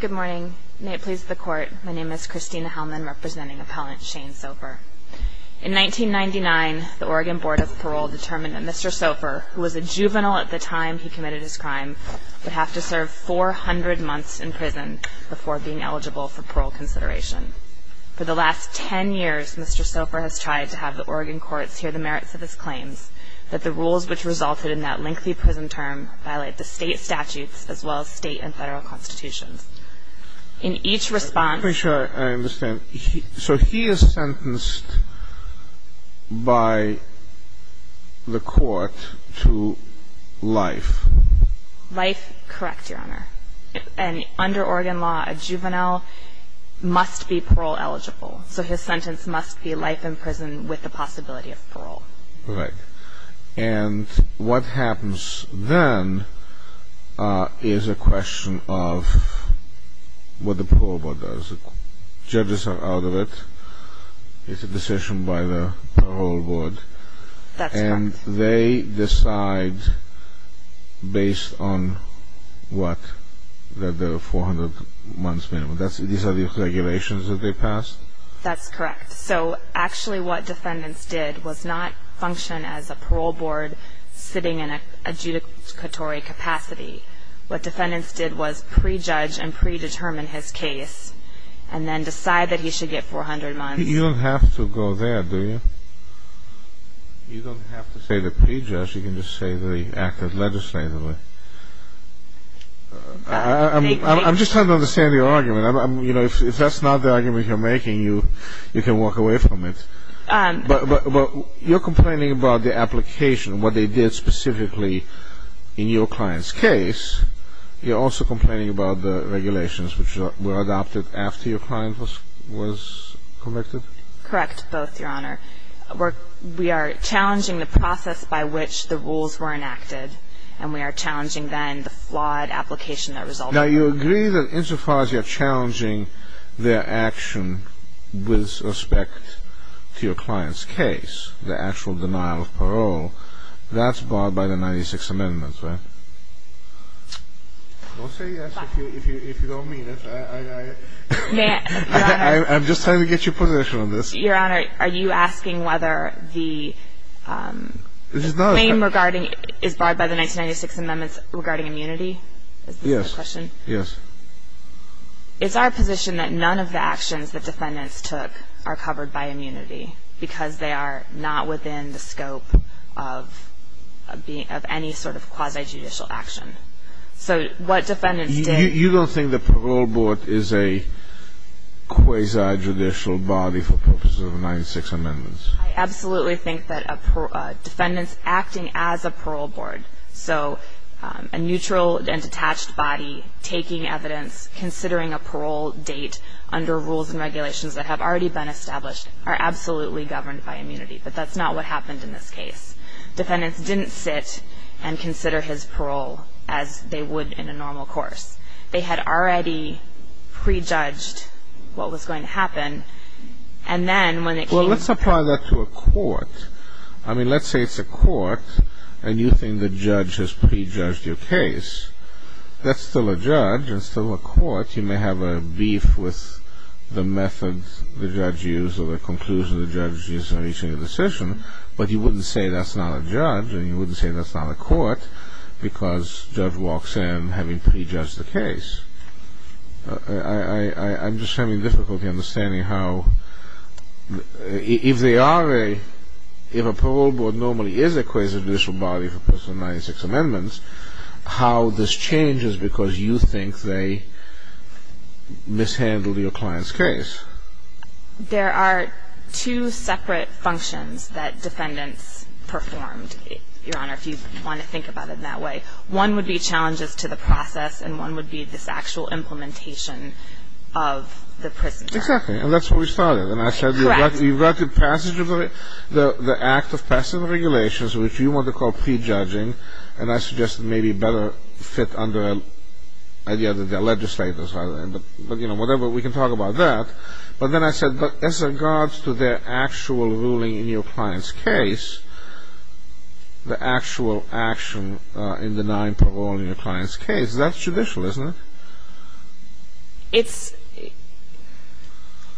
Good morning. May it please the Court, my name is Christina Hellman, representing Appellant Shane Sopher. In 1999, the Oregon Board of Parole determined that Mr. Sopher, who was a juvenile at the time he committed his crime, would have to serve 400 months in prison before being eligible for parole consideration. For the last 10 years, Mr. Sopher has tried to have the Oregon courts hear the merits of his claims, that the rules which resulted in that lengthy prison term violate the state statutes as well as state and federal constitutions. In each response... Let me make sure I understand. So he is sentenced by the court to life? Life, correct, Your Honor. And under Oregon law, a juvenile must be parole eligible. So his sentence must be life in prison with the possibility of parole. Correct. And what happens then is a question of what the parole board does. Judges are out of it. It's a decision by the parole board. That's correct. And they decide based on what? That there are 400 months minimum. These are the regulations that they passed? That's correct. So actually what defendants did was not function as a parole board sitting in an adjudicatory capacity. What defendants did was pre-judge and pre-determine his case and then decide that he should get 400 months. You don't have to go there, do you? You don't have to say the pre-judge. You can just say that he acted legislatively. I'm just trying to understand your argument. If that's not the argument you're making, you can walk away from it. But you're complaining about the application, what they did specifically in your client's case. You're also complaining about the regulations which were adopted after your client was convicted? Correct, both, Your Honor. We are challenging the process by which the rules were enacted. And we are challenging then the flawed application that resulted from that. Now you agree that insofar as you're challenging their action with respect to your client's case, the actual denial of parole, that's barred by the 96th Amendment, right? Don't say yes if you don't mean it. I'm just trying to get your position on this. Your Honor, are you asking whether the claim is barred by the 1996th Amendment regarding immunity? Yes. Is our position that none of the actions that defendants took are covered by immunity because they are not within the scope of any sort of quasi-judicial action? You don't think the parole board is a quasi-judicial body for purposes of the 96th Amendment? I absolutely think that defendants acting as a parole board, so a neutral and detached body taking evidence, considering a parole date under rules and regulations that have already been established, are absolutely governed by immunity. But that's not what happened in this case. Defendants didn't sit and consider his parole as they would in a normal course. They had already prejudged what was going to happen. Well, let's apply that to a court. I mean, let's say it's a court and you think the judge has prejudged your case. That's still a judge and still a court. You may have a beef with the methods the judge used or the conclusions the judge used in reaching a decision, but you wouldn't say that's not a judge and you wouldn't say that's not a court because the judge walks in having prejudged the case. I'm just having difficulty understanding how, if they are a, if a parole board normally is a quasi-judicial body for purposes of the 96th Amendment, how this changes because you think they mishandled your client's case. There are two separate functions that defendants performed, Your Honor, if you want to think about it that way. One would be challenges to the process and one would be this actual implementation of the prisoner. Exactly. And that's where we started. Correct. And I said you've got the passage of the Act of Passive Regulations, which you want to call prejudging, and I suggest it may be better fit under the idea that they're legislators. Whatever, we can talk about that. But then I said as regards to their actual ruling in your client's case, the actual action in denying parole in your client's case, that's judicial, isn't it?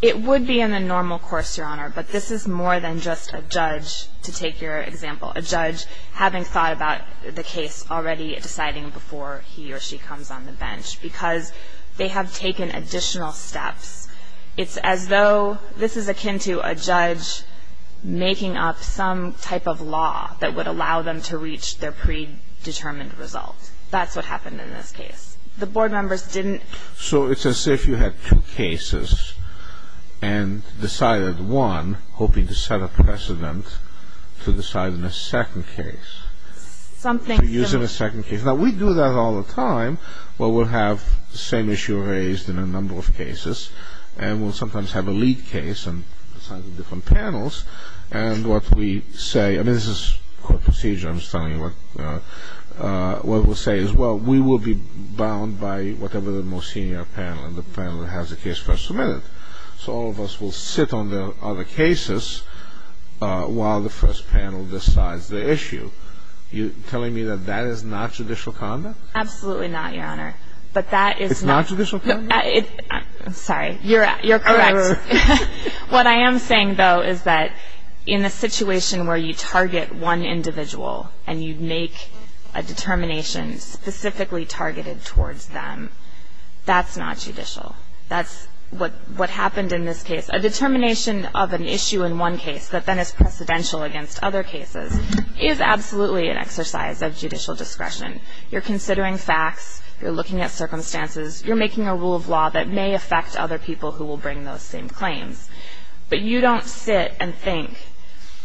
It would be in the normal course, Your Honor, but this is more than just a judge, to take your example, a judge having thought about the case already deciding before he or she comes on the bench because they have taken additional steps. It's as though this is akin to a judge making up some type of law that would allow them to reach their predetermined result. That's what happened in this case. The board members didn't... So it's as if you had two cases and decided one, hoping to set a precedent to decide in a second case. Something... To use in a second case. Now, we do that all the time, but we'll have the same issue raised in a number of cases, and we'll sometimes have a lead case on the sides of different panels, and what we say... I mean, this is court procedure. I'm just telling you what we'll say as well. We will be bound by whatever the most senior panel in the panel has the case first submitted. So all of us will sit on the other cases while the first panel decides the issue. Are you telling me that that is not judicial conduct? Absolutely not, Your Honor. But that is not... It's not judicial conduct? I'm sorry. You're correct. What I am saying, though, is that in a situation where you target one individual and you make a determination specifically targeted towards them, that's not judicial. That's what happened in this case. A determination of an issue in one case that then is precedential against other cases is absolutely an exercise of judicial discretion. You're considering facts. You're looking at circumstances. You're making a rule of law that may affect other people who will bring those same claims. But you don't sit and think,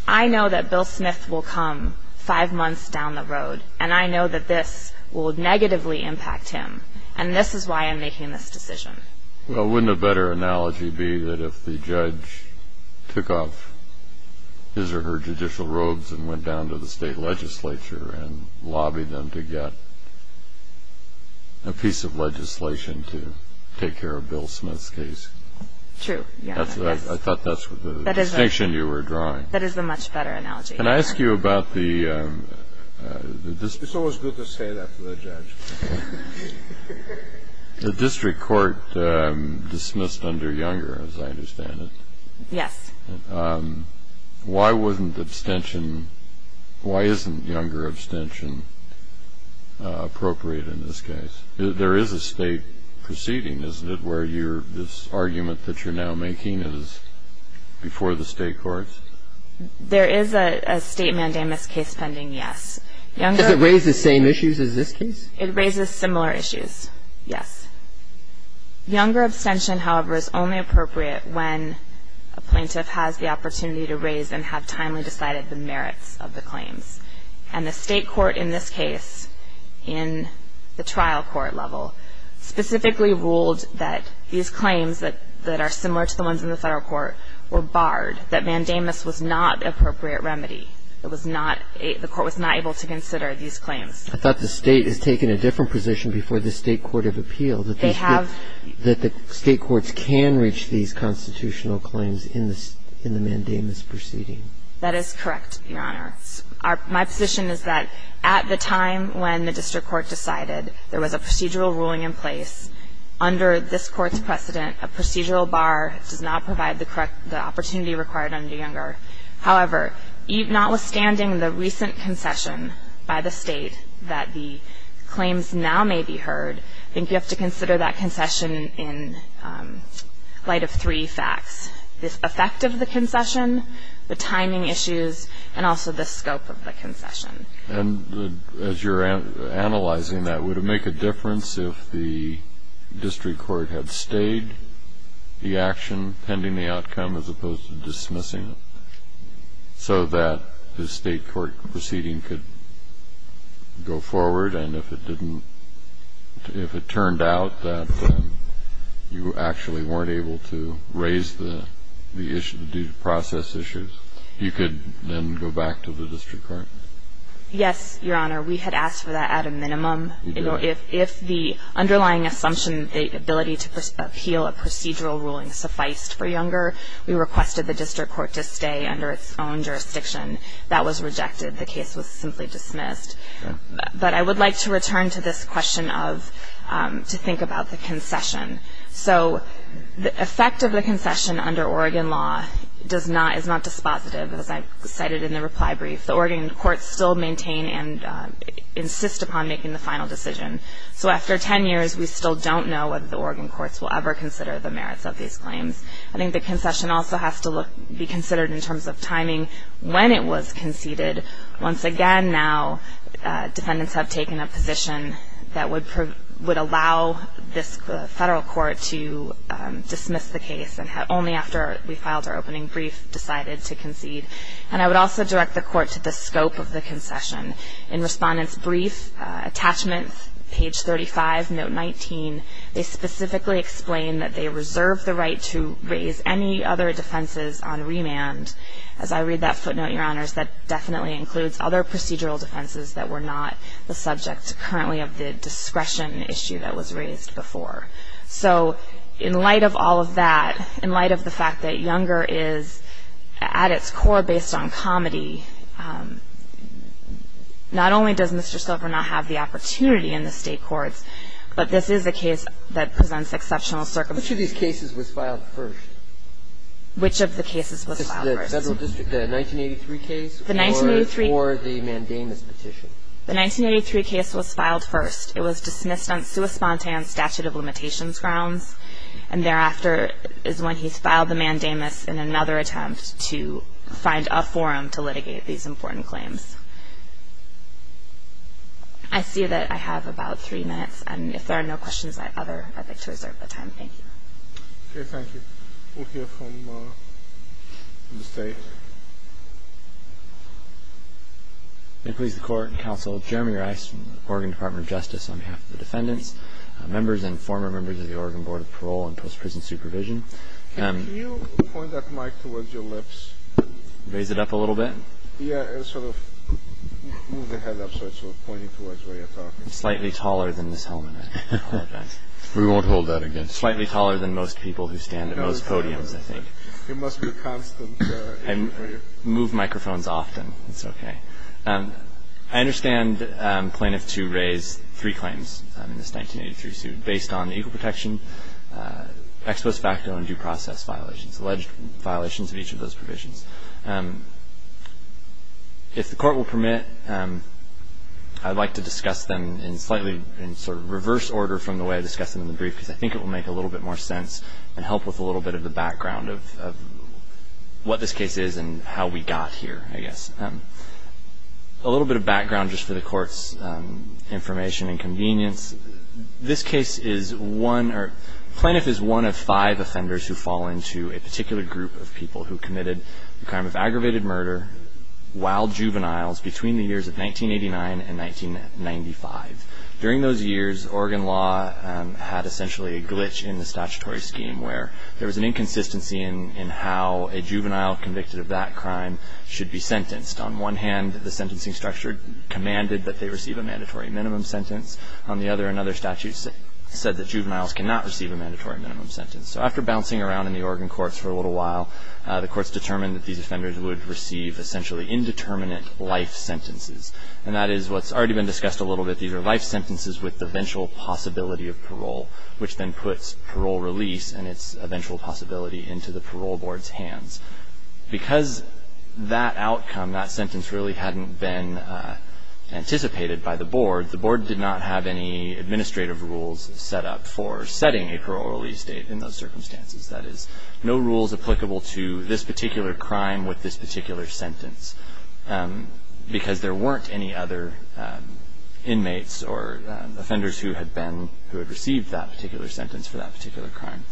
I know that Bill Smith will come five months down the road, and I know that this will negatively impact him, and this is why I'm making this decision. Well, wouldn't a better analogy be that if the judge took off his or her judicial robes and went down to the state legislature and lobbied them to get a piece of legislation to take care of Bill Smith's case? True. I thought that's the distinction you were drawing. That is the much better analogy. Can I ask you about the... It's always good to say that to the judge. The district court dismissed under Younger, as I understand it. Yes. Why isn't Younger abstention appropriate in this case? There is a state proceeding, isn't it, where this argument that you're now making is before the state courts? There is a state mandamus case pending, yes. Does it raise the same issues as this case? It raises similar issues, yes. Younger abstention, however, is only appropriate when a plaintiff has the opportunity to raise and have timely decided the merits of the claims. And the state court in this case, in the trial court level, specifically ruled that these claims that are similar to the ones in the federal court were barred, that mandamus was not the appropriate remedy. The court was not able to consider these claims. I thought the state has taken a different position before the state court of appeal. They have. That the state courts can reach these constitutional claims in the mandamus proceeding. That is correct, Your Honor. My position is that at the time when the district court decided there was a procedural ruling in place, under this Court's precedent, a procedural bar does not provide the opportunity required under Younger. However, notwithstanding the recent concession by the state that the claims now may be heard, I think you have to consider that concession in light of three facts. The effect of the concession, the timing issues, and also the scope of the concession. And as you're analyzing that, would it make a difference if the district court had stayed the action pending the outcome as opposed to dismissing it so that the state court proceeding could go forward? And if it didn't, if it turned out that you actually weren't able to raise the issue due to process issues, you could then go back to the district court? Yes, Your Honor. We had asked for that at a minimum. If the underlying assumption, the ability to appeal a procedural ruling sufficed for Younger, we requested the district court to stay under its own jurisdiction. That was rejected. The case was simply dismissed. But I would like to return to this question of to think about the concession. So the effect of the concession under Oregon law is not dispositive, as I cited in the reply brief. The Oregon courts still maintain and insist upon making the final decision. So after 10 years, we still don't know whether the Oregon courts will ever consider the merits of these claims. I think the concession also has to be considered in terms of timing when it was conceded. Once again now, defendants have taken a position that would allow this federal court to dismiss the case, and only after we filed our opening brief decided to concede. And I would also direct the court to the scope of the concession. In Respondent's brief attachment, page 35, note 19, they specifically explain that they reserve the right to raise any other defenses on remand. As I read that footnote, Your Honors, that definitely includes other procedural defenses that were not the subject currently of the discretion issue that was raised before. So in light of all of that, in light of the fact that Younger is at its core based on comedy, not only does Mr. Silver not have the opportunity in the state courts, but this is a case that presents exceptional circumstances. Which of these cases was filed first? Which of the cases was filed first? The federal district, the 1983 case or the mandamus petition? The 1983 case was filed first. It was dismissed on sui spontan statute of limitations grounds, and thereafter is when he's filed the mandamus in another attempt to find a forum to litigate these important claims. I see that I have about three minutes, and if there are no questions, I'd like to reserve the time. Thank you. Okay, thank you. We'll hear from the State. May it please the Court and Counsel, Jeremy Rice from the Oregon Department of Justice on behalf of the defendants, members and former members of the Oregon Board of Parole and Post-Prison Supervision. Can you point that mic towards your lips? Raise it up a little bit? Yeah, sort of move the head up so it's pointing towards where you're talking. Slightly taller than this helmet, I apologize. We won't hold that against you. Slightly taller than most people who stand at most podiums, I think. It must be a constant issue for you. I move microphones often. It's okay. I understand plaintiffs to raise three claims in this 1983 suit based on equal protection, ex post facto and due process violations, alleged violations of each of those provisions. If the Court will permit, I'd like to discuss them in slightly sort of reverse order from the way I discussed them in the brief because I think it will make a little bit more sense and help with a little bit of the background of what this case is and how we got here, I guess. A little bit of background just for the Court's information and convenience. This case is one or plaintiff is one of five offenders who fall into a particular group of people who committed the crime of aggravated murder while juveniles between the years of 1989 and 1995. During those years, Oregon law had essentially a glitch in the statutory scheme where there was an inconsistency in how a juvenile convicted of that crime should be sentenced. On one hand, the sentencing structure commanded that they receive a mandatory minimum sentence. On the other, another statute said that juveniles cannot receive a mandatory minimum sentence. So after bouncing around in the Oregon courts for a little while, the courts determined that these offenders would receive essentially indeterminate life sentences, and that is what's already been discussed a little bit. These are life sentences with the eventual possibility of parole, which then puts parole release and its eventual possibility into the parole board's hands. Because that outcome, that sentence, really hadn't been anticipated by the board, the board did not have any administrative rules set up for setting a parole release date in those circumstances. That is, no rules applicable to this particular crime with this particular sentence because there weren't any other inmates or offenders who had been, who had received that particular sentence for that particular crime.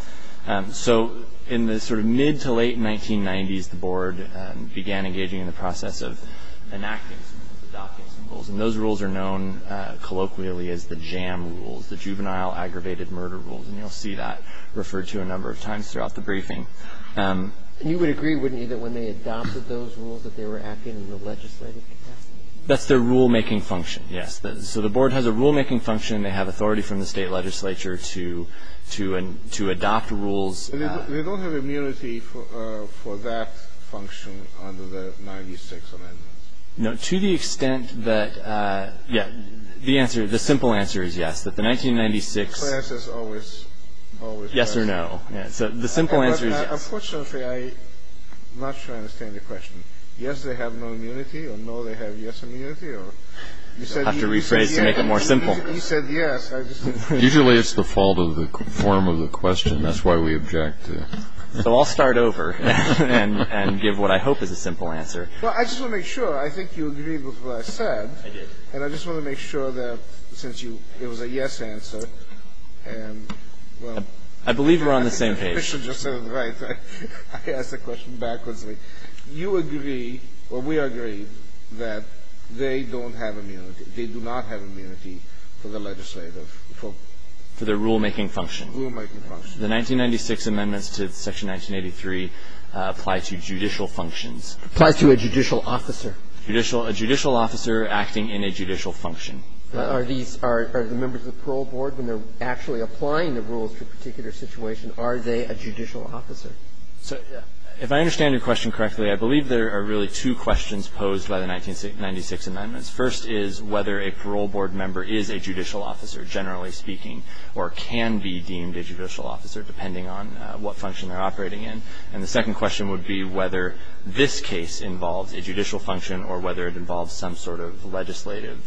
So in the sort of mid to late 1990s, the board began engaging in the process of enacting some rules, adopting some rules, and those rules are known colloquially as the JAM rules, the Juvenile Aggravated Murder Rules, and you'll see that referred to a number of times throughout the briefing. And you would agree, wouldn't you, that when they adopted those rules that they were acting in the legislative capacity? That's their rulemaking function, yes. So the board has a rulemaking function. They have authority from the state legislature to adopt rules. They don't have immunity for that function under the 96th Amendment. No. To the extent that, yeah, the answer, the simple answer is yes, that the 1996... The class is always, always... Yes or no. So the simple answer is yes. Unfortunately, I'm not sure I understand your question. Yes, they have no immunity, or no, they have yes immunity, or... I'll have to rephrase to make it more simple. He said yes. Usually it's the fault of the form of the question. That's why we object to... So I'll start over and give what I hope is a simple answer. Well, I just want to make sure. I think you agreed with what I said. And I just want to make sure that since you, it was a yes answer. And, well... I believe we're on the same page. The official just said, right. I asked the question backwards. You agree, or we agree, that they don't have immunity. They do not have immunity for the legislative. For the rulemaking function. Rulemaking function. The 1996 amendments to Section 1983 apply to judicial functions. Applies to a judicial officer. A judicial officer acting in a judicial function. Are these, are the members of the parole board, when they're actually applying the rules to a particular situation, are they a judicial officer? If I understand your question correctly, I believe there are really two questions posed by the 1996 amendments. First is whether a parole board member is a judicial officer, generally speaking, or can be deemed a judicial officer, depending on what function they're operating in. And the second question would be whether this case involves a judicial function or whether it involves some sort of legislative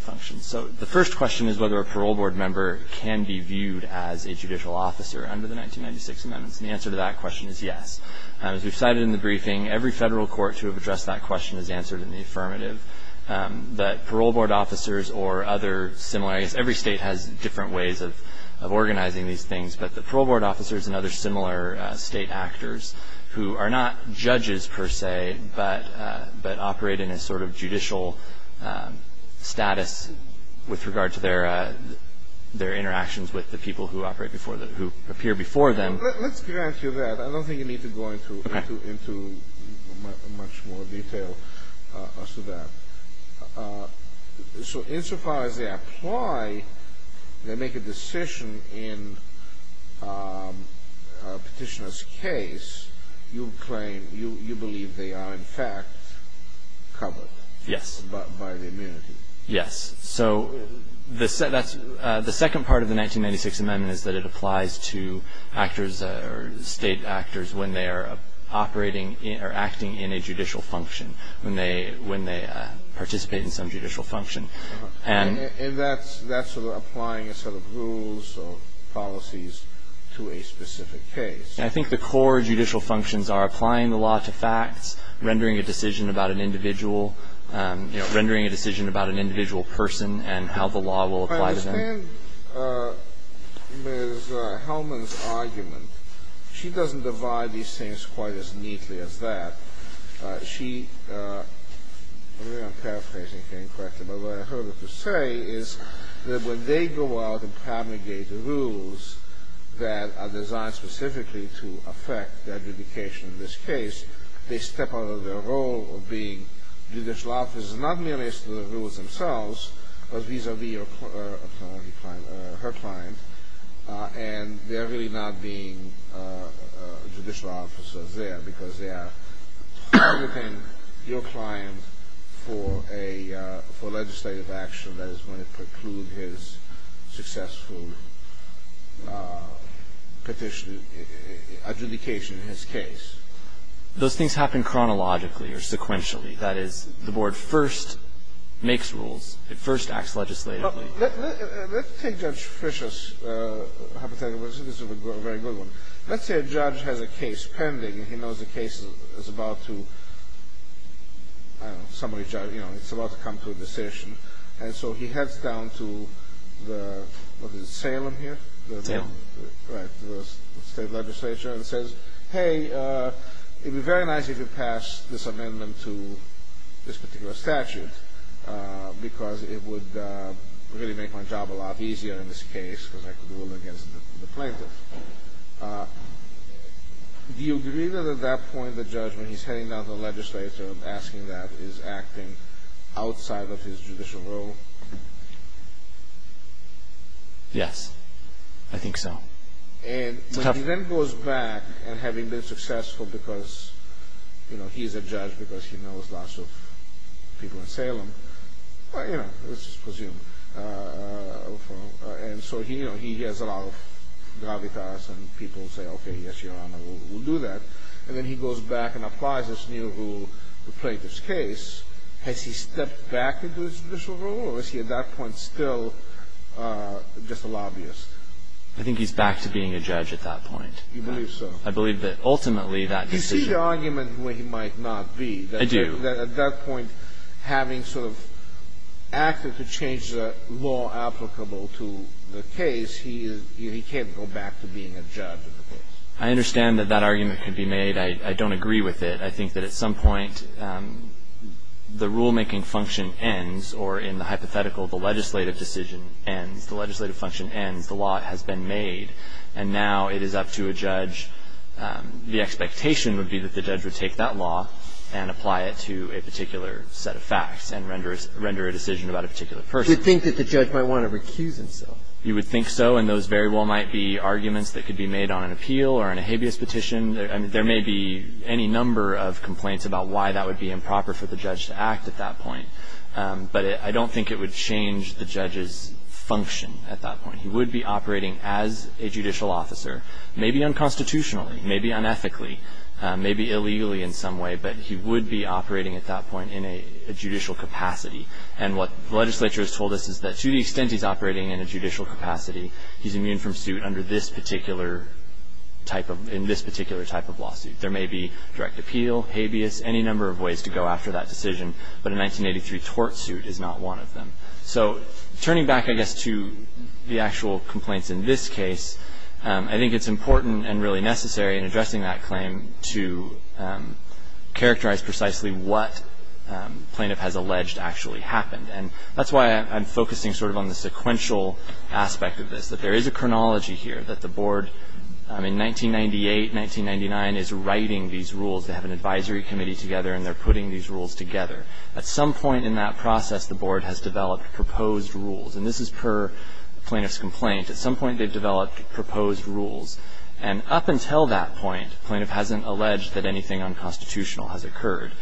function. So the first question is whether a parole board member can be viewed as a judicial officer under the 1996 amendments. And the answer to that question is yes. As we've cited in the briefing, every federal court to have addressed that question is answered in the affirmative. But parole board officers or other similar, I guess every state has different ways of organizing these things. But the parole board officers and other similar state actors who are not judges, per se, but operate in a sort of judicial status with regard to their interactions with the people who operate before them, who appear before them. Let's get into that. I don't think you need to go into much more detail as to that. So insofar as they apply, they make a decision in a petitioner's case, you claim you believe they are in fact covered. Yes. By the immunity. Yes. So the second part of the 1996 amendment is that it applies to actors or state actors when they are operating or acting in a judicial function, when they participate in some judicial function. And that's sort of applying a set of rules or policies to a specific case. I think the core judicial functions are applying the law to facts, rendering a decision about an individual, you know, rendering a decision about an individual person and how the law will apply to them. I understand Ms. Hellman's argument. She doesn't divide these things quite as neatly as that. She – I don't know if I'm paraphrasing correctly, but what I heard her say is that when they go out and promulgate the rules that are designed specifically to affect the adjudication of this case, they step out of their role of being judicial officers, not merely as to the rules themselves, but vis-a-vis her client. And they're really not being judicial officers there because they are targeting your client for a – for legislative action, that is, when it precludes his successful petition – adjudication in his case. Those things happen chronologically or sequentially. That is, the board first makes rules. It first acts legislatively. Let's take Judge Fisher's hypothetical. This is a very good one. Let's say a judge has a case pending, and he knows the case is about to – I don't know, somebody's – you know, it's about to come to a decision. And so he heads down to the – what is it, Salem here? Salem. Right, the state legislature, and says, hey, it would be very nice if you passed this amendment to this particular statute because it would really make my job a lot easier in this case because I could rule against the plaintiff. Do you agree that at that point the judge, when he's heading down to the legislature and asking that, is acting outside of his judicial role? Yes, I think so. And when he then goes back, and having been successful because, you know, he's a judge because he knows lots of people in Salem, well, you know, let's just presume. And so he has a lot of gravitas, and people say, okay, yes, Your Honor, we'll do that. And then he goes back and applies this new rule to the plaintiff's case. Has he stepped back into his judicial role, or is he at that point still just a lobbyist? I think he's back to being a judge at that point. You believe so? I believe that ultimately that decision – Do you see the argument where he might not be? I do. At that point, having sort of acted to change the law applicable to the case, he can't go back to being a judge of the case. I understand that that argument could be made. I don't agree with it. I think that at some point the rulemaking function ends, or in the hypothetical, the legislative decision ends, the legislative function ends, the law has been made, and now it is up to a judge. The expectation would be that the judge would take that law and apply it to a particular set of facts and render a decision about a particular person. You think that the judge might want to recuse himself? You would think so, and those very well might be arguments that could be made on an appeal or on a habeas petition. I mean, there may be any number of complaints about why that would be improper for the judge to act at that point, but I don't think it would change the judge's function at that point. He would be operating as a judicial officer, maybe unconstitutionally, maybe unethically, maybe illegally in some way, but he would be operating at that point in a judicial capacity. And what the legislature has told us is that to the extent he's operating in a judicial capacity, he's immune from suit under this particular type of lawsuit. There may be direct appeal, habeas, any number of ways to go after that decision, but a 1983 tort suit is not one of them. So turning back, I guess, to the actual complaints in this case, I think it's important and really necessary in addressing that claim to characterize precisely what plaintiff has alleged actually happened. And that's why I'm focusing sort of on the sequential aspect of this, that there is a chronology here, that the board in 1998, 1999 is writing these rules. They have an advisory committee together, and they're putting these rules together. At some point in that process, the board has developed proposed rules. And this is per plaintiff's complaint. At some point, they've developed proposed rules. And up until that point, plaintiff hasn't alleged that anything unconstitutional has occurred.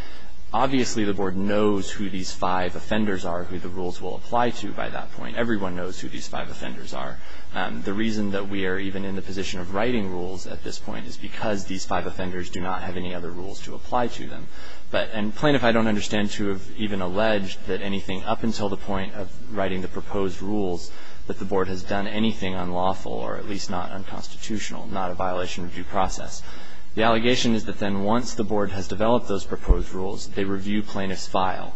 Obviously, the board knows who these five offenders are, who the rules will apply to by that point. Everyone knows who these five offenders are. The reason that we are even in the position of writing rules at this point is because these five offenders do not have any other rules to apply to them. And plaintiff, I don't understand, to have even alleged that anything up until the point of writing the proposed rules, that the board has done anything unlawful or at least not unconstitutional, not a violation of due process. The allegation is that then once the board has developed those proposed rules, they review plaintiff's file.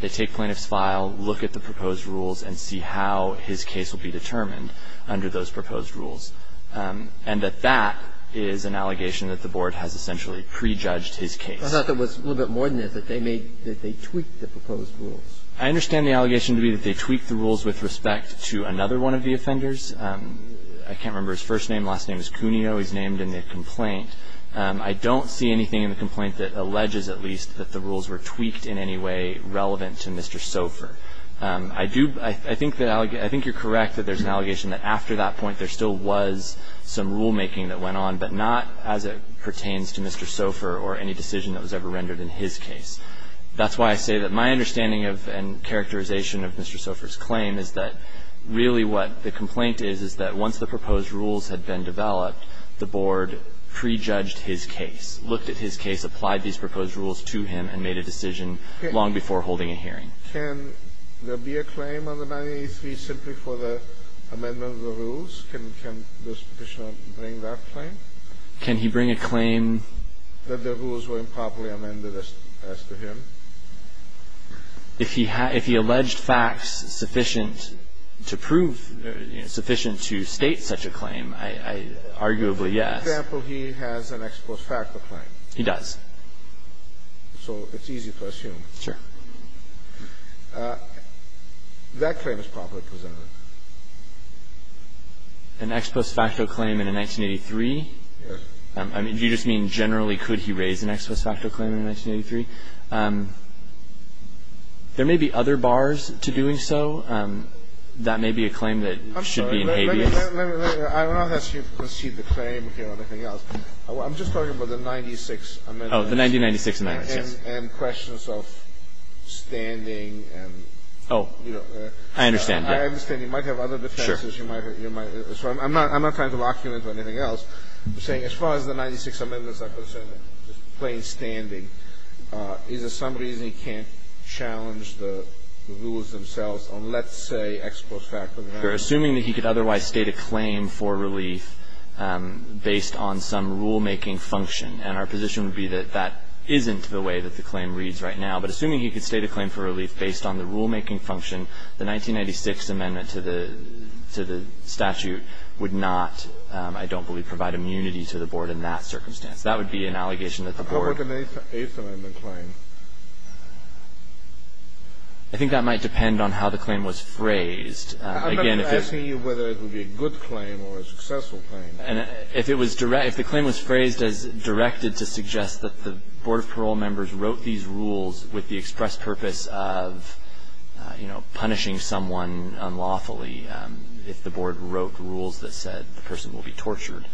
They take plaintiff's file, look at the proposed rules, and see how his case will be determined under those proposed rules. And that that is an allegation that the board has essentially prejudged his case. I thought there was a little bit more than this, that they made, that they tweaked the proposed rules. I understand the allegation to be that they tweaked the rules with respect to another one of the offenders. I can't remember his first name. Last name is Cuneo. He's named in the complaint. I don't see anything in the complaint that alleges at least that the rules were tweaked in any way relevant to Mr. Sofer. I do, I think that, I think you're correct that there's an allegation that after that point there still was some rulemaking that went on, but not as it pertains to Mr. Sofer or any decision that was ever rendered in his case. That's why I say that my understanding of and characterization of Mr. Sofer's claim is that really what the complaint is, is that once the proposed rules had been developed, the board prejudged his case, looked at his case, applied these proposed rules to him, and made a decision long before holding a hearing. Can there be a claim under 983 simply for the amendment of the rules? Can this Petitioner bring that claim? Can he bring a claim? That the rules were improperly amended as to him? If he alleged facts sufficient to prove, sufficient to state such a claim, I arguably yes. For example, he has an ex post facto claim. He does. So it's easy to assume. Sure. That claim is properly presented. An ex post facto claim in a 1983? Yes. I mean, do you just mean generally could he raise an ex post facto claim in 1983? There may be other bars to doing so. That may be a claim that should be in habeas. I'm sorry. I don't know if you can see the claim here or anything else. I'm just talking about the 96 amendments. Oh, the 1996 amendments, yes. And questions of standing and, you know. I understand. You might have other defenses. Sure. I'm not trying to lock you into anything else. I'm saying as far as the 96 amendments are concerned, just plain standing, is there some reason he can't challenge the rules themselves on, let's say, ex post facto? We're assuming that he could otherwise state a claim for relief based on some rulemaking function. And our position would be that that isn't the way that the claim reads right now. But assuming he could state a claim for relief based on the rulemaking function, the 1996 amendment to the statute would not, I don't believe, provide immunity to the Board in that circumstance. That would be an allegation that the Board would. How would an eighth amendment claim? I think that might depend on how the claim was phrased. I'm not asking you whether it would be a good claim or a successful claim. And if it was direct – if the claim was phrased as directed to suggest that the punishing someone unlawfully if the Board wrote rules that said the person will be tortured.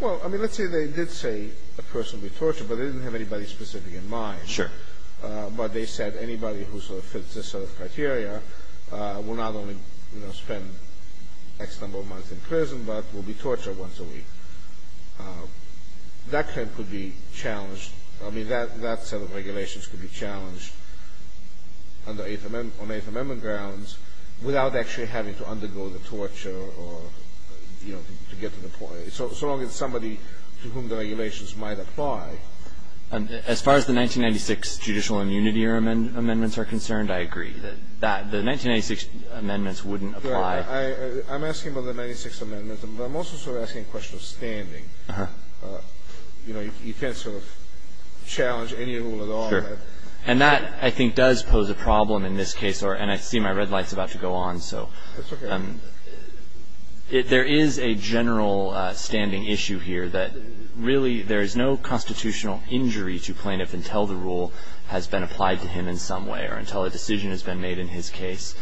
Well, I mean, let's say they did say a person would be tortured, but they didn't have anybody specific in mind. Sure. But they said anybody who sort of fits this sort of criteria will not only, you know, spend X number of months in prison, but will be tortured once a week. That claim could be challenged. I mean, that set of regulations could be challenged on eighth amendment grounds without actually having to undergo the torture or, you know, to get to the point. So long as somebody to whom the regulations might apply. As far as the 1996 judicial immunity amendments are concerned, I agree. The 1996 amendments wouldn't apply. I'm asking about the 1996 amendments, but I'm also sort of asking a question of standing. You know, you can't sort of challenge any rule at all. Sure. And that, I think, does pose a problem in this case. And I see my red light's about to go on, so. That's okay. There is a general standing issue here that really there is no constitutional injury to plaintiff until the rule has been applied to him in some way or until a decision has been made in his case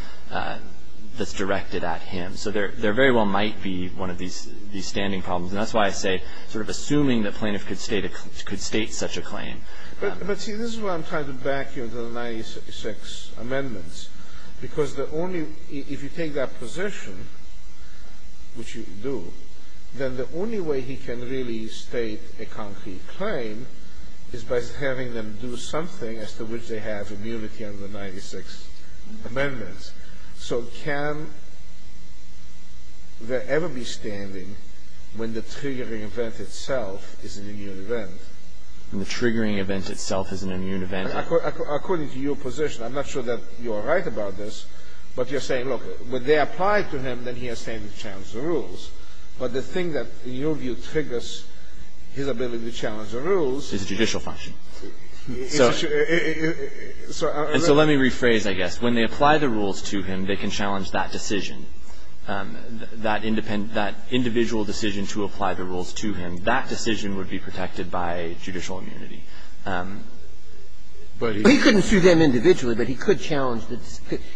that's directed at him. So there very well might be one of these standing problems. And that's why I say sort of assuming that plaintiff could state such a claim. But, see, this is why I'm trying to back you on the 1996 amendments. Because the only – if you take that position, which you do, then the only way he can really state a concrete claim is by having them do something as to which they have immunity under the 1996 amendments. So can there ever be standing when the triggering event itself is an immune event? When the triggering event itself is an immune event. According to your position. I'm not sure that you are right about this. But you're saying, look, when they apply it to him, then he has standing to challenge the rules. But the thing that, in your view, triggers his ability to challenge the rules. Is judicial function. So let me rephrase, I guess. When they apply the rules to him, they can challenge that decision. That individual decision to apply the rules to him, that decision would be protected by judicial immunity. But he couldn't sue them individually, but he could challenge.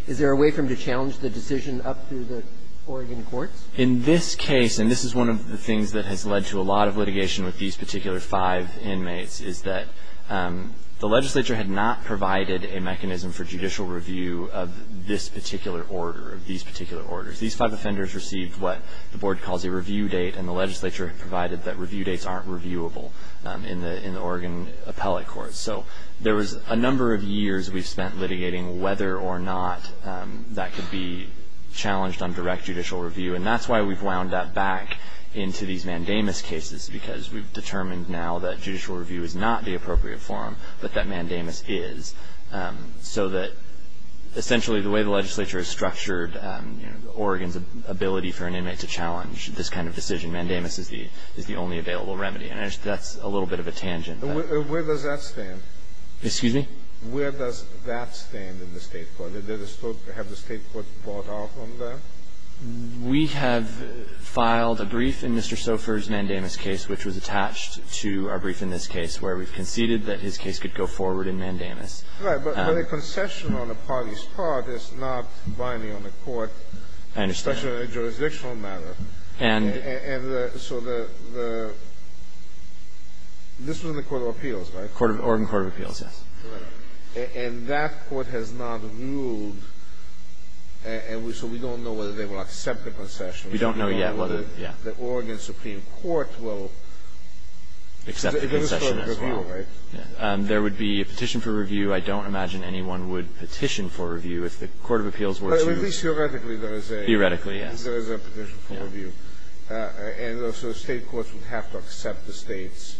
Is there a way for him to challenge the decision up through the Oregon courts? In this case, and this is one of the things that has led to a lot of litigation with these particular five inmates, is that the legislature had not provided a mechanism for judicial review of this particular order, of these particular orders. These five offenders received what the board calls a review date. And the legislature provided that review dates aren't reviewable in the Oregon appellate courts. So there was a number of years we've spent litigating whether or not that could be challenged on direct judicial review. And that's why we've wound that back into these mandamus cases, because we've determined now that judicial review is not the appropriate forum, but that mandamus is. So that essentially the way the legislature has structured Oregon's ability for an inmate to challenge this kind of decision, mandamus is the only available remedy. And that's a little bit of a tangent. Where does that stand? Excuse me? Where does that stand in the state court? Have the state court bought off on that? We have filed a brief in Mr. Sofer's mandamus case, which was attached to our brief in this case, where we've conceded that his case could go forward in mandamus. Right. But a concession on the party's part is not binding on the court. I understand. Especially on a jurisdictional matter. And the so the the this was in the court of appeals, right? Oregon court of appeals, yes. Right. And that court has not ruled, and so we don't know whether they will accept the concession. We don't know yet whether, yeah. The Oregon supreme court will. Accept the concession as well. There would be a petition for review. I don't imagine anyone would petition for review if the court of appeals were to. But at least theoretically there is a. Theoretically, yes. There is a petition for review. And also state courts would have to accept the state's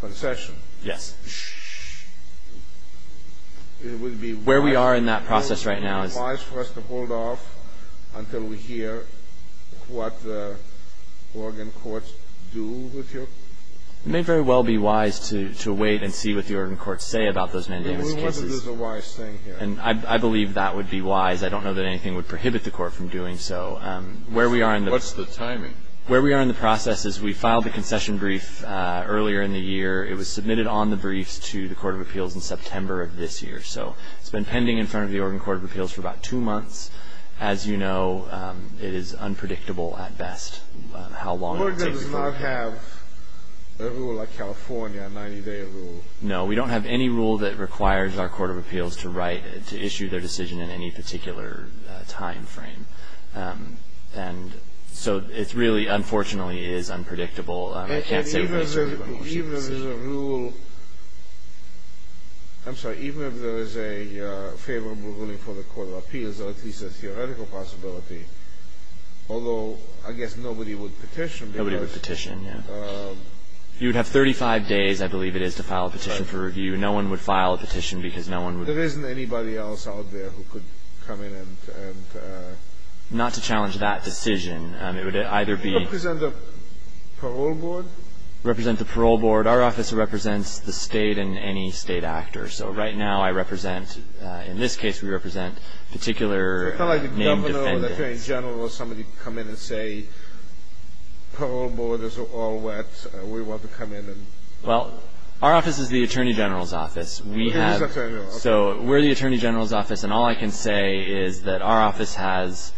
concession. Yes. It would be. Where we are in that process right now is. It would be wise for us to hold off until we hear what the Oregon courts do with your. It may very well be wise to wait and see what the Oregon courts say about those mandamus cases. It would be wise to do the wise thing here. And I believe that would be wise. I don't know that anything would prohibit the court from doing so. Where we are in the. What's the timing? Where we are in the process is we filed the concession brief earlier in the year. It was submitted on the briefs to the court of appeals in September of this year. So it's been pending in front of the Oregon court of appeals for about two months. As you know, it is unpredictable at best how long it will take. Oregon does not have a rule like California, a 90-day rule. No. We don't have any rule that requires our court of appeals to issue their decision in any particular time frame. And so it really, unfortunately, is unpredictable. And even if there is a rule. I'm sorry. Even if there is a favorable ruling for the court of appeals, or at least a theoretical possibility, although I guess nobody would petition. Nobody would petition, yes. You would have 35 days, I believe it is, to file a petition for review. No one would file a petition because no one would. There isn't anybody else out there who could come in and... Not to challenge that decision. It would either be... Parole board? Represent the parole board. Our office represents the state and any state actor. So right now I represent... In this case, we represent particular named defendants. It's not like the governor or the attorney general or somebody come in and say, parole board is all wet, we want to come in and... Well, our office is the attorney general's office. We have... So we're the attorney general's office. And all I can say is that our office has,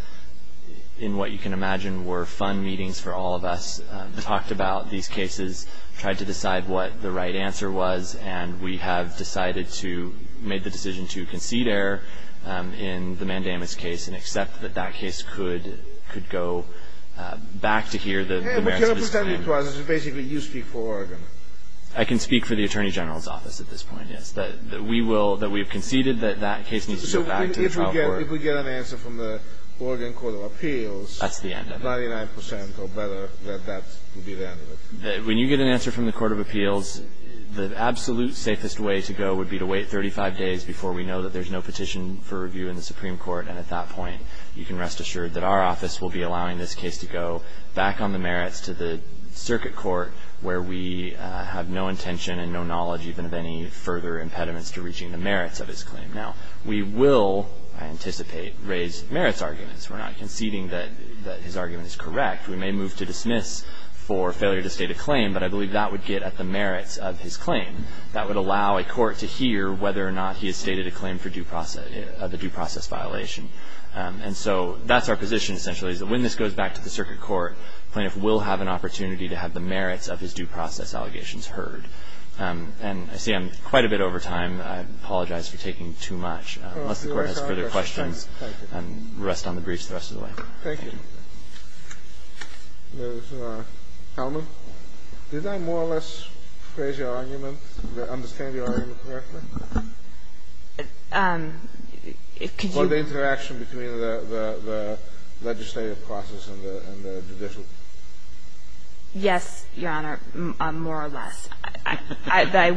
in what you can imagine, were fun meetings for all of us, talked about these cases, tried to decide what the right answer was, and we have decided to make the decision to concede error in the Mandamus case and accept that that case could go back to here. But you're not pretending to us. This is basically you speak for Oregon. I can speak for the attorney general's office at this point, yes, that we have conceded that that case needs to go back to the parole board. So if we get an answer from the Oregon Court of Appeals... That's the end of it. 99% or better that that would be the end of it. When you get an answer from the Court of Appeals, the absolute safest way to go would be to wait 35 days before we know that there's no petition for review in the Supreme Court, and at that point you can rest assured that our office will be allowing this case to go back on the merits to the circuit court where we have no intention and no knowledge even of any further impediments to reaching the merits of this claim. Now, we will, I anticipate, raise merits arguments. We're not conceding that his argument is correct. We may move to dismiss for failure to state a claim, but I believe that would get at the merits of his claim. That would allow a court to hear whether or not he has stated a claim for due process of the due process violation. And so that's our position essentially, is that when this goes back to the circuit court, plaintiff will have an opportunity to have the merits of his due process allegations heard. And I see I'm quite a bit over time. I apologize for taking too much. Unless the Court has further questions. Thank you. And rest on the briefs the rest of the way. Thank you. Ms. Hellman, did I more or less phrase your argument, understand your argument correctly? Could you? Or the interaction between the legislative process and the judicial? Yes, Your Honor, more or less.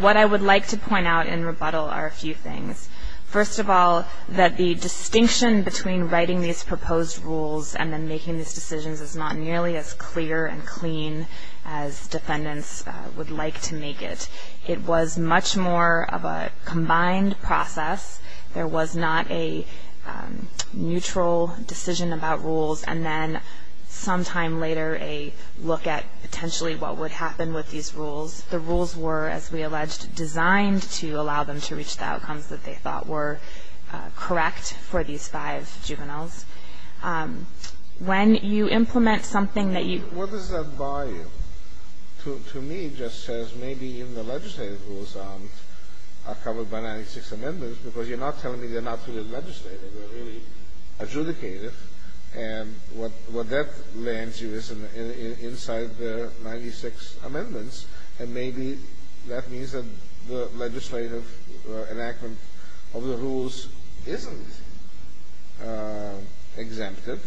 What I would like to point out in rebuttal are a few things. First of all, that the distinction between writing these proposed rules and then making these decisions is not nearly as clear and clean as defendants would like to make it. It was much more of a combined process. There was not a neutral decision about rules and then sometime later a look at potentially what would happen with these rules. The rules were, as we alleged, designed to allow them to reach the outcomes that they thought were correct for these five juveniles. When you implement something that you ---- What does that bar you? To me it just says maybe even the legislative rules are covered by 96 amendments because you're not telling me they're not really legislative. They're really adjudicated. And what that lands you is inside the 96 amendments. And maybe that means that the legislative enactment of the rules isn't exemptive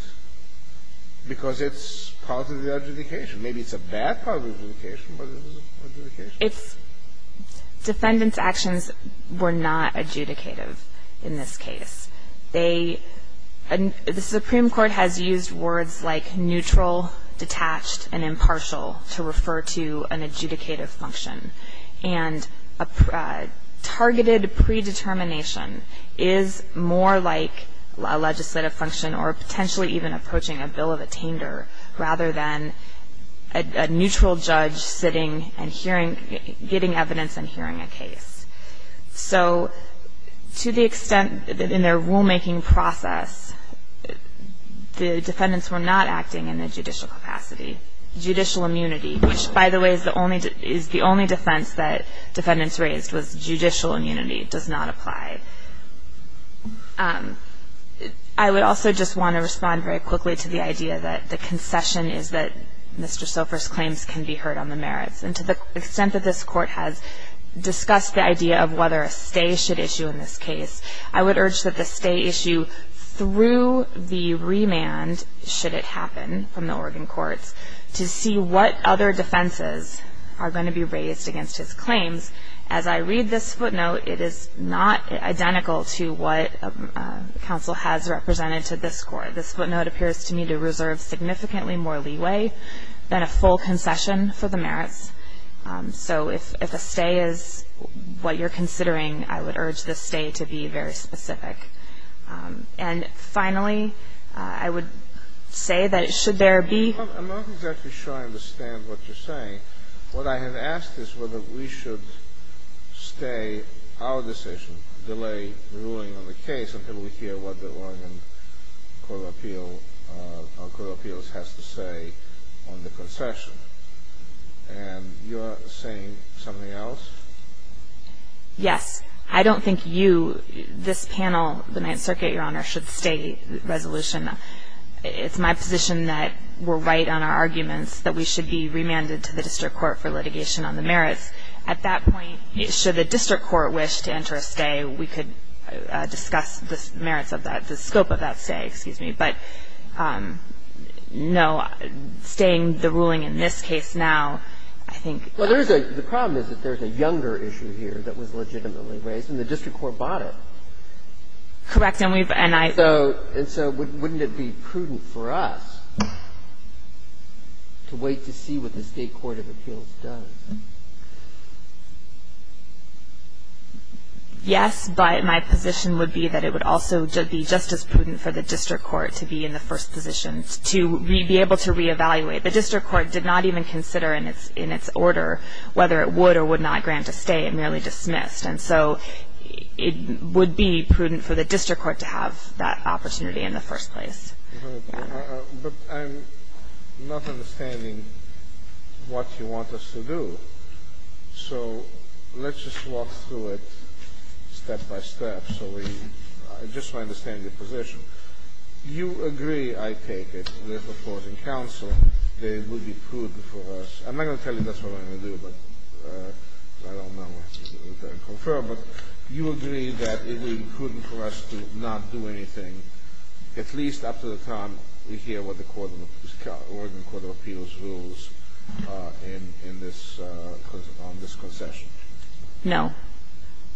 because it's part of the adjudication. Maybe it's a bad part of the adjudication, but it's an adjudication. It's ---- Defendants' actions were not adjudicative in this case. The Supreme Court has used words like neutral, detached, and impartial to refer to an adjudicative function. And a targeted predetermination is more like a legislative function or potentially even approaching a bill of attainder rather than a neutral judge sitting and hearing ---- getting evidence and hearing a case. So to the extent that in their rulemaking process, the defendants were not acting in a judicial capacity. Judicial immunity, which by the way is the only defense that defendants raised, was judicial immunity does not apply. I would also just want to respond very quickly to the idea that the concession is that Mr. Sofer's claims can be heard on the merits. And to the extent that this Court has discussed the idea of whether a stay should issue in this case, I would urge that the stay issue through the remand should it happen from the Oregon courts to see what other defenses are going to be raised against his claims. As I read this footnote, it is not identical to what counsel has represented to this Court. This footnote appears to me to reserve significantly more leeway than a full concession for the merits. So if a stay is what you're considering, I would urge the stay to be very specific. And finally, I would say that should there be ---- I'm not exactly sure I understand what you're saying. What I have asked is whether we should stay our decision, delay ruling on the case, until we hear what the Oregon Court of Appeals has to say on the concession. And you're saying something else? Yes. I don't think you, this panel, the Ninth Circuit, Your Honor, should stay the resolution. It's my position that we're right on our arguments that we should be remanded to the district court for litigation on the merits. At that point, should the district court wish to enter a stay, we could discuss the merits of that, the scope of that stay, excuse me. But, no, staying the ruling in this case now, I think ---- Well, there is a ---- the problem is that there is a younger issue here that was legitimately raised, and the district court bought it. Correct. And we've ---- And so wouldn't it be prudent for us to wait to see what the state court of appeals does? Yes, but my position would be that it would also be just as prudent for the district court to be in the first position to be able to reevaluate. The district court did not even consider in its order whether it would or would not grant a stay. It merely dismissed. And so it would be prudent for the district court to have that opportunity in the first place. But I'm not understanding what you want us to do. So let's just walk through it step by step so we ---- I just want to understand your position. You agree, I take it, with opposing counsel that it would be prudent for us. I'm not going to tell you that's what I'm going to do. But I don't know what you would prefer. But you agree that it would be prudent for us to not do anything, at least up to the time we hear what the court of appeals rules in this ---- on this concession. No.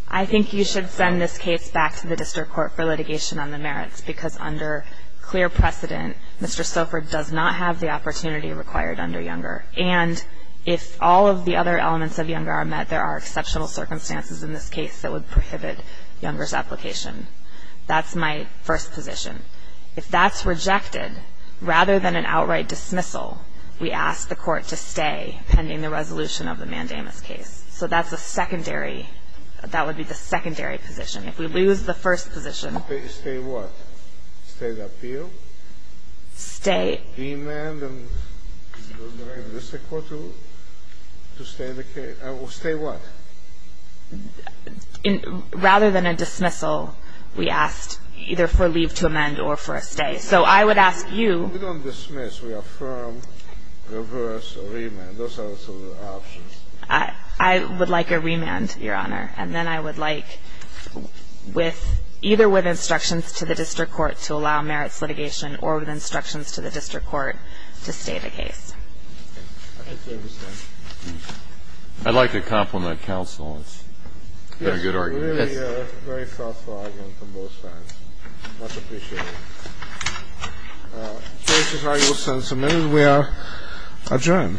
I think you should send this case back to the district court for litigation on the merits, because under clear precedent, Mr. Soford does not have the opportunity required under Younger. And if all of the other elements of Younger are met, there are exceptional circumstances in this case that would prohibit Younger's application. That's my first position. If that's rejected, rather than an outright dismissal, we ask the court to stay pending the resolution of the mandamus case. So that's a secondary ---- that would be the secondary position. If we lose the first position ---- Stay what? Stay the appeal? Stay ---- Stay what? Rather than a dismissal, we asked either for leave to amend or for a stay. So I would ask you ---- We don't dismiss. We affirm, reverse, or remand. Those are the options. I would like a remand, Your Honor. And then I would like with ---- either with instructions to the district court to allow merits litigation or with instructions to the district court to allow to stay the case. I think they understand. I'd like to compliment counsel. It's a very good argument. It's really a very thoughtful argument from both sides. Much appreciated. The case is now used and submitted. We are adjourned.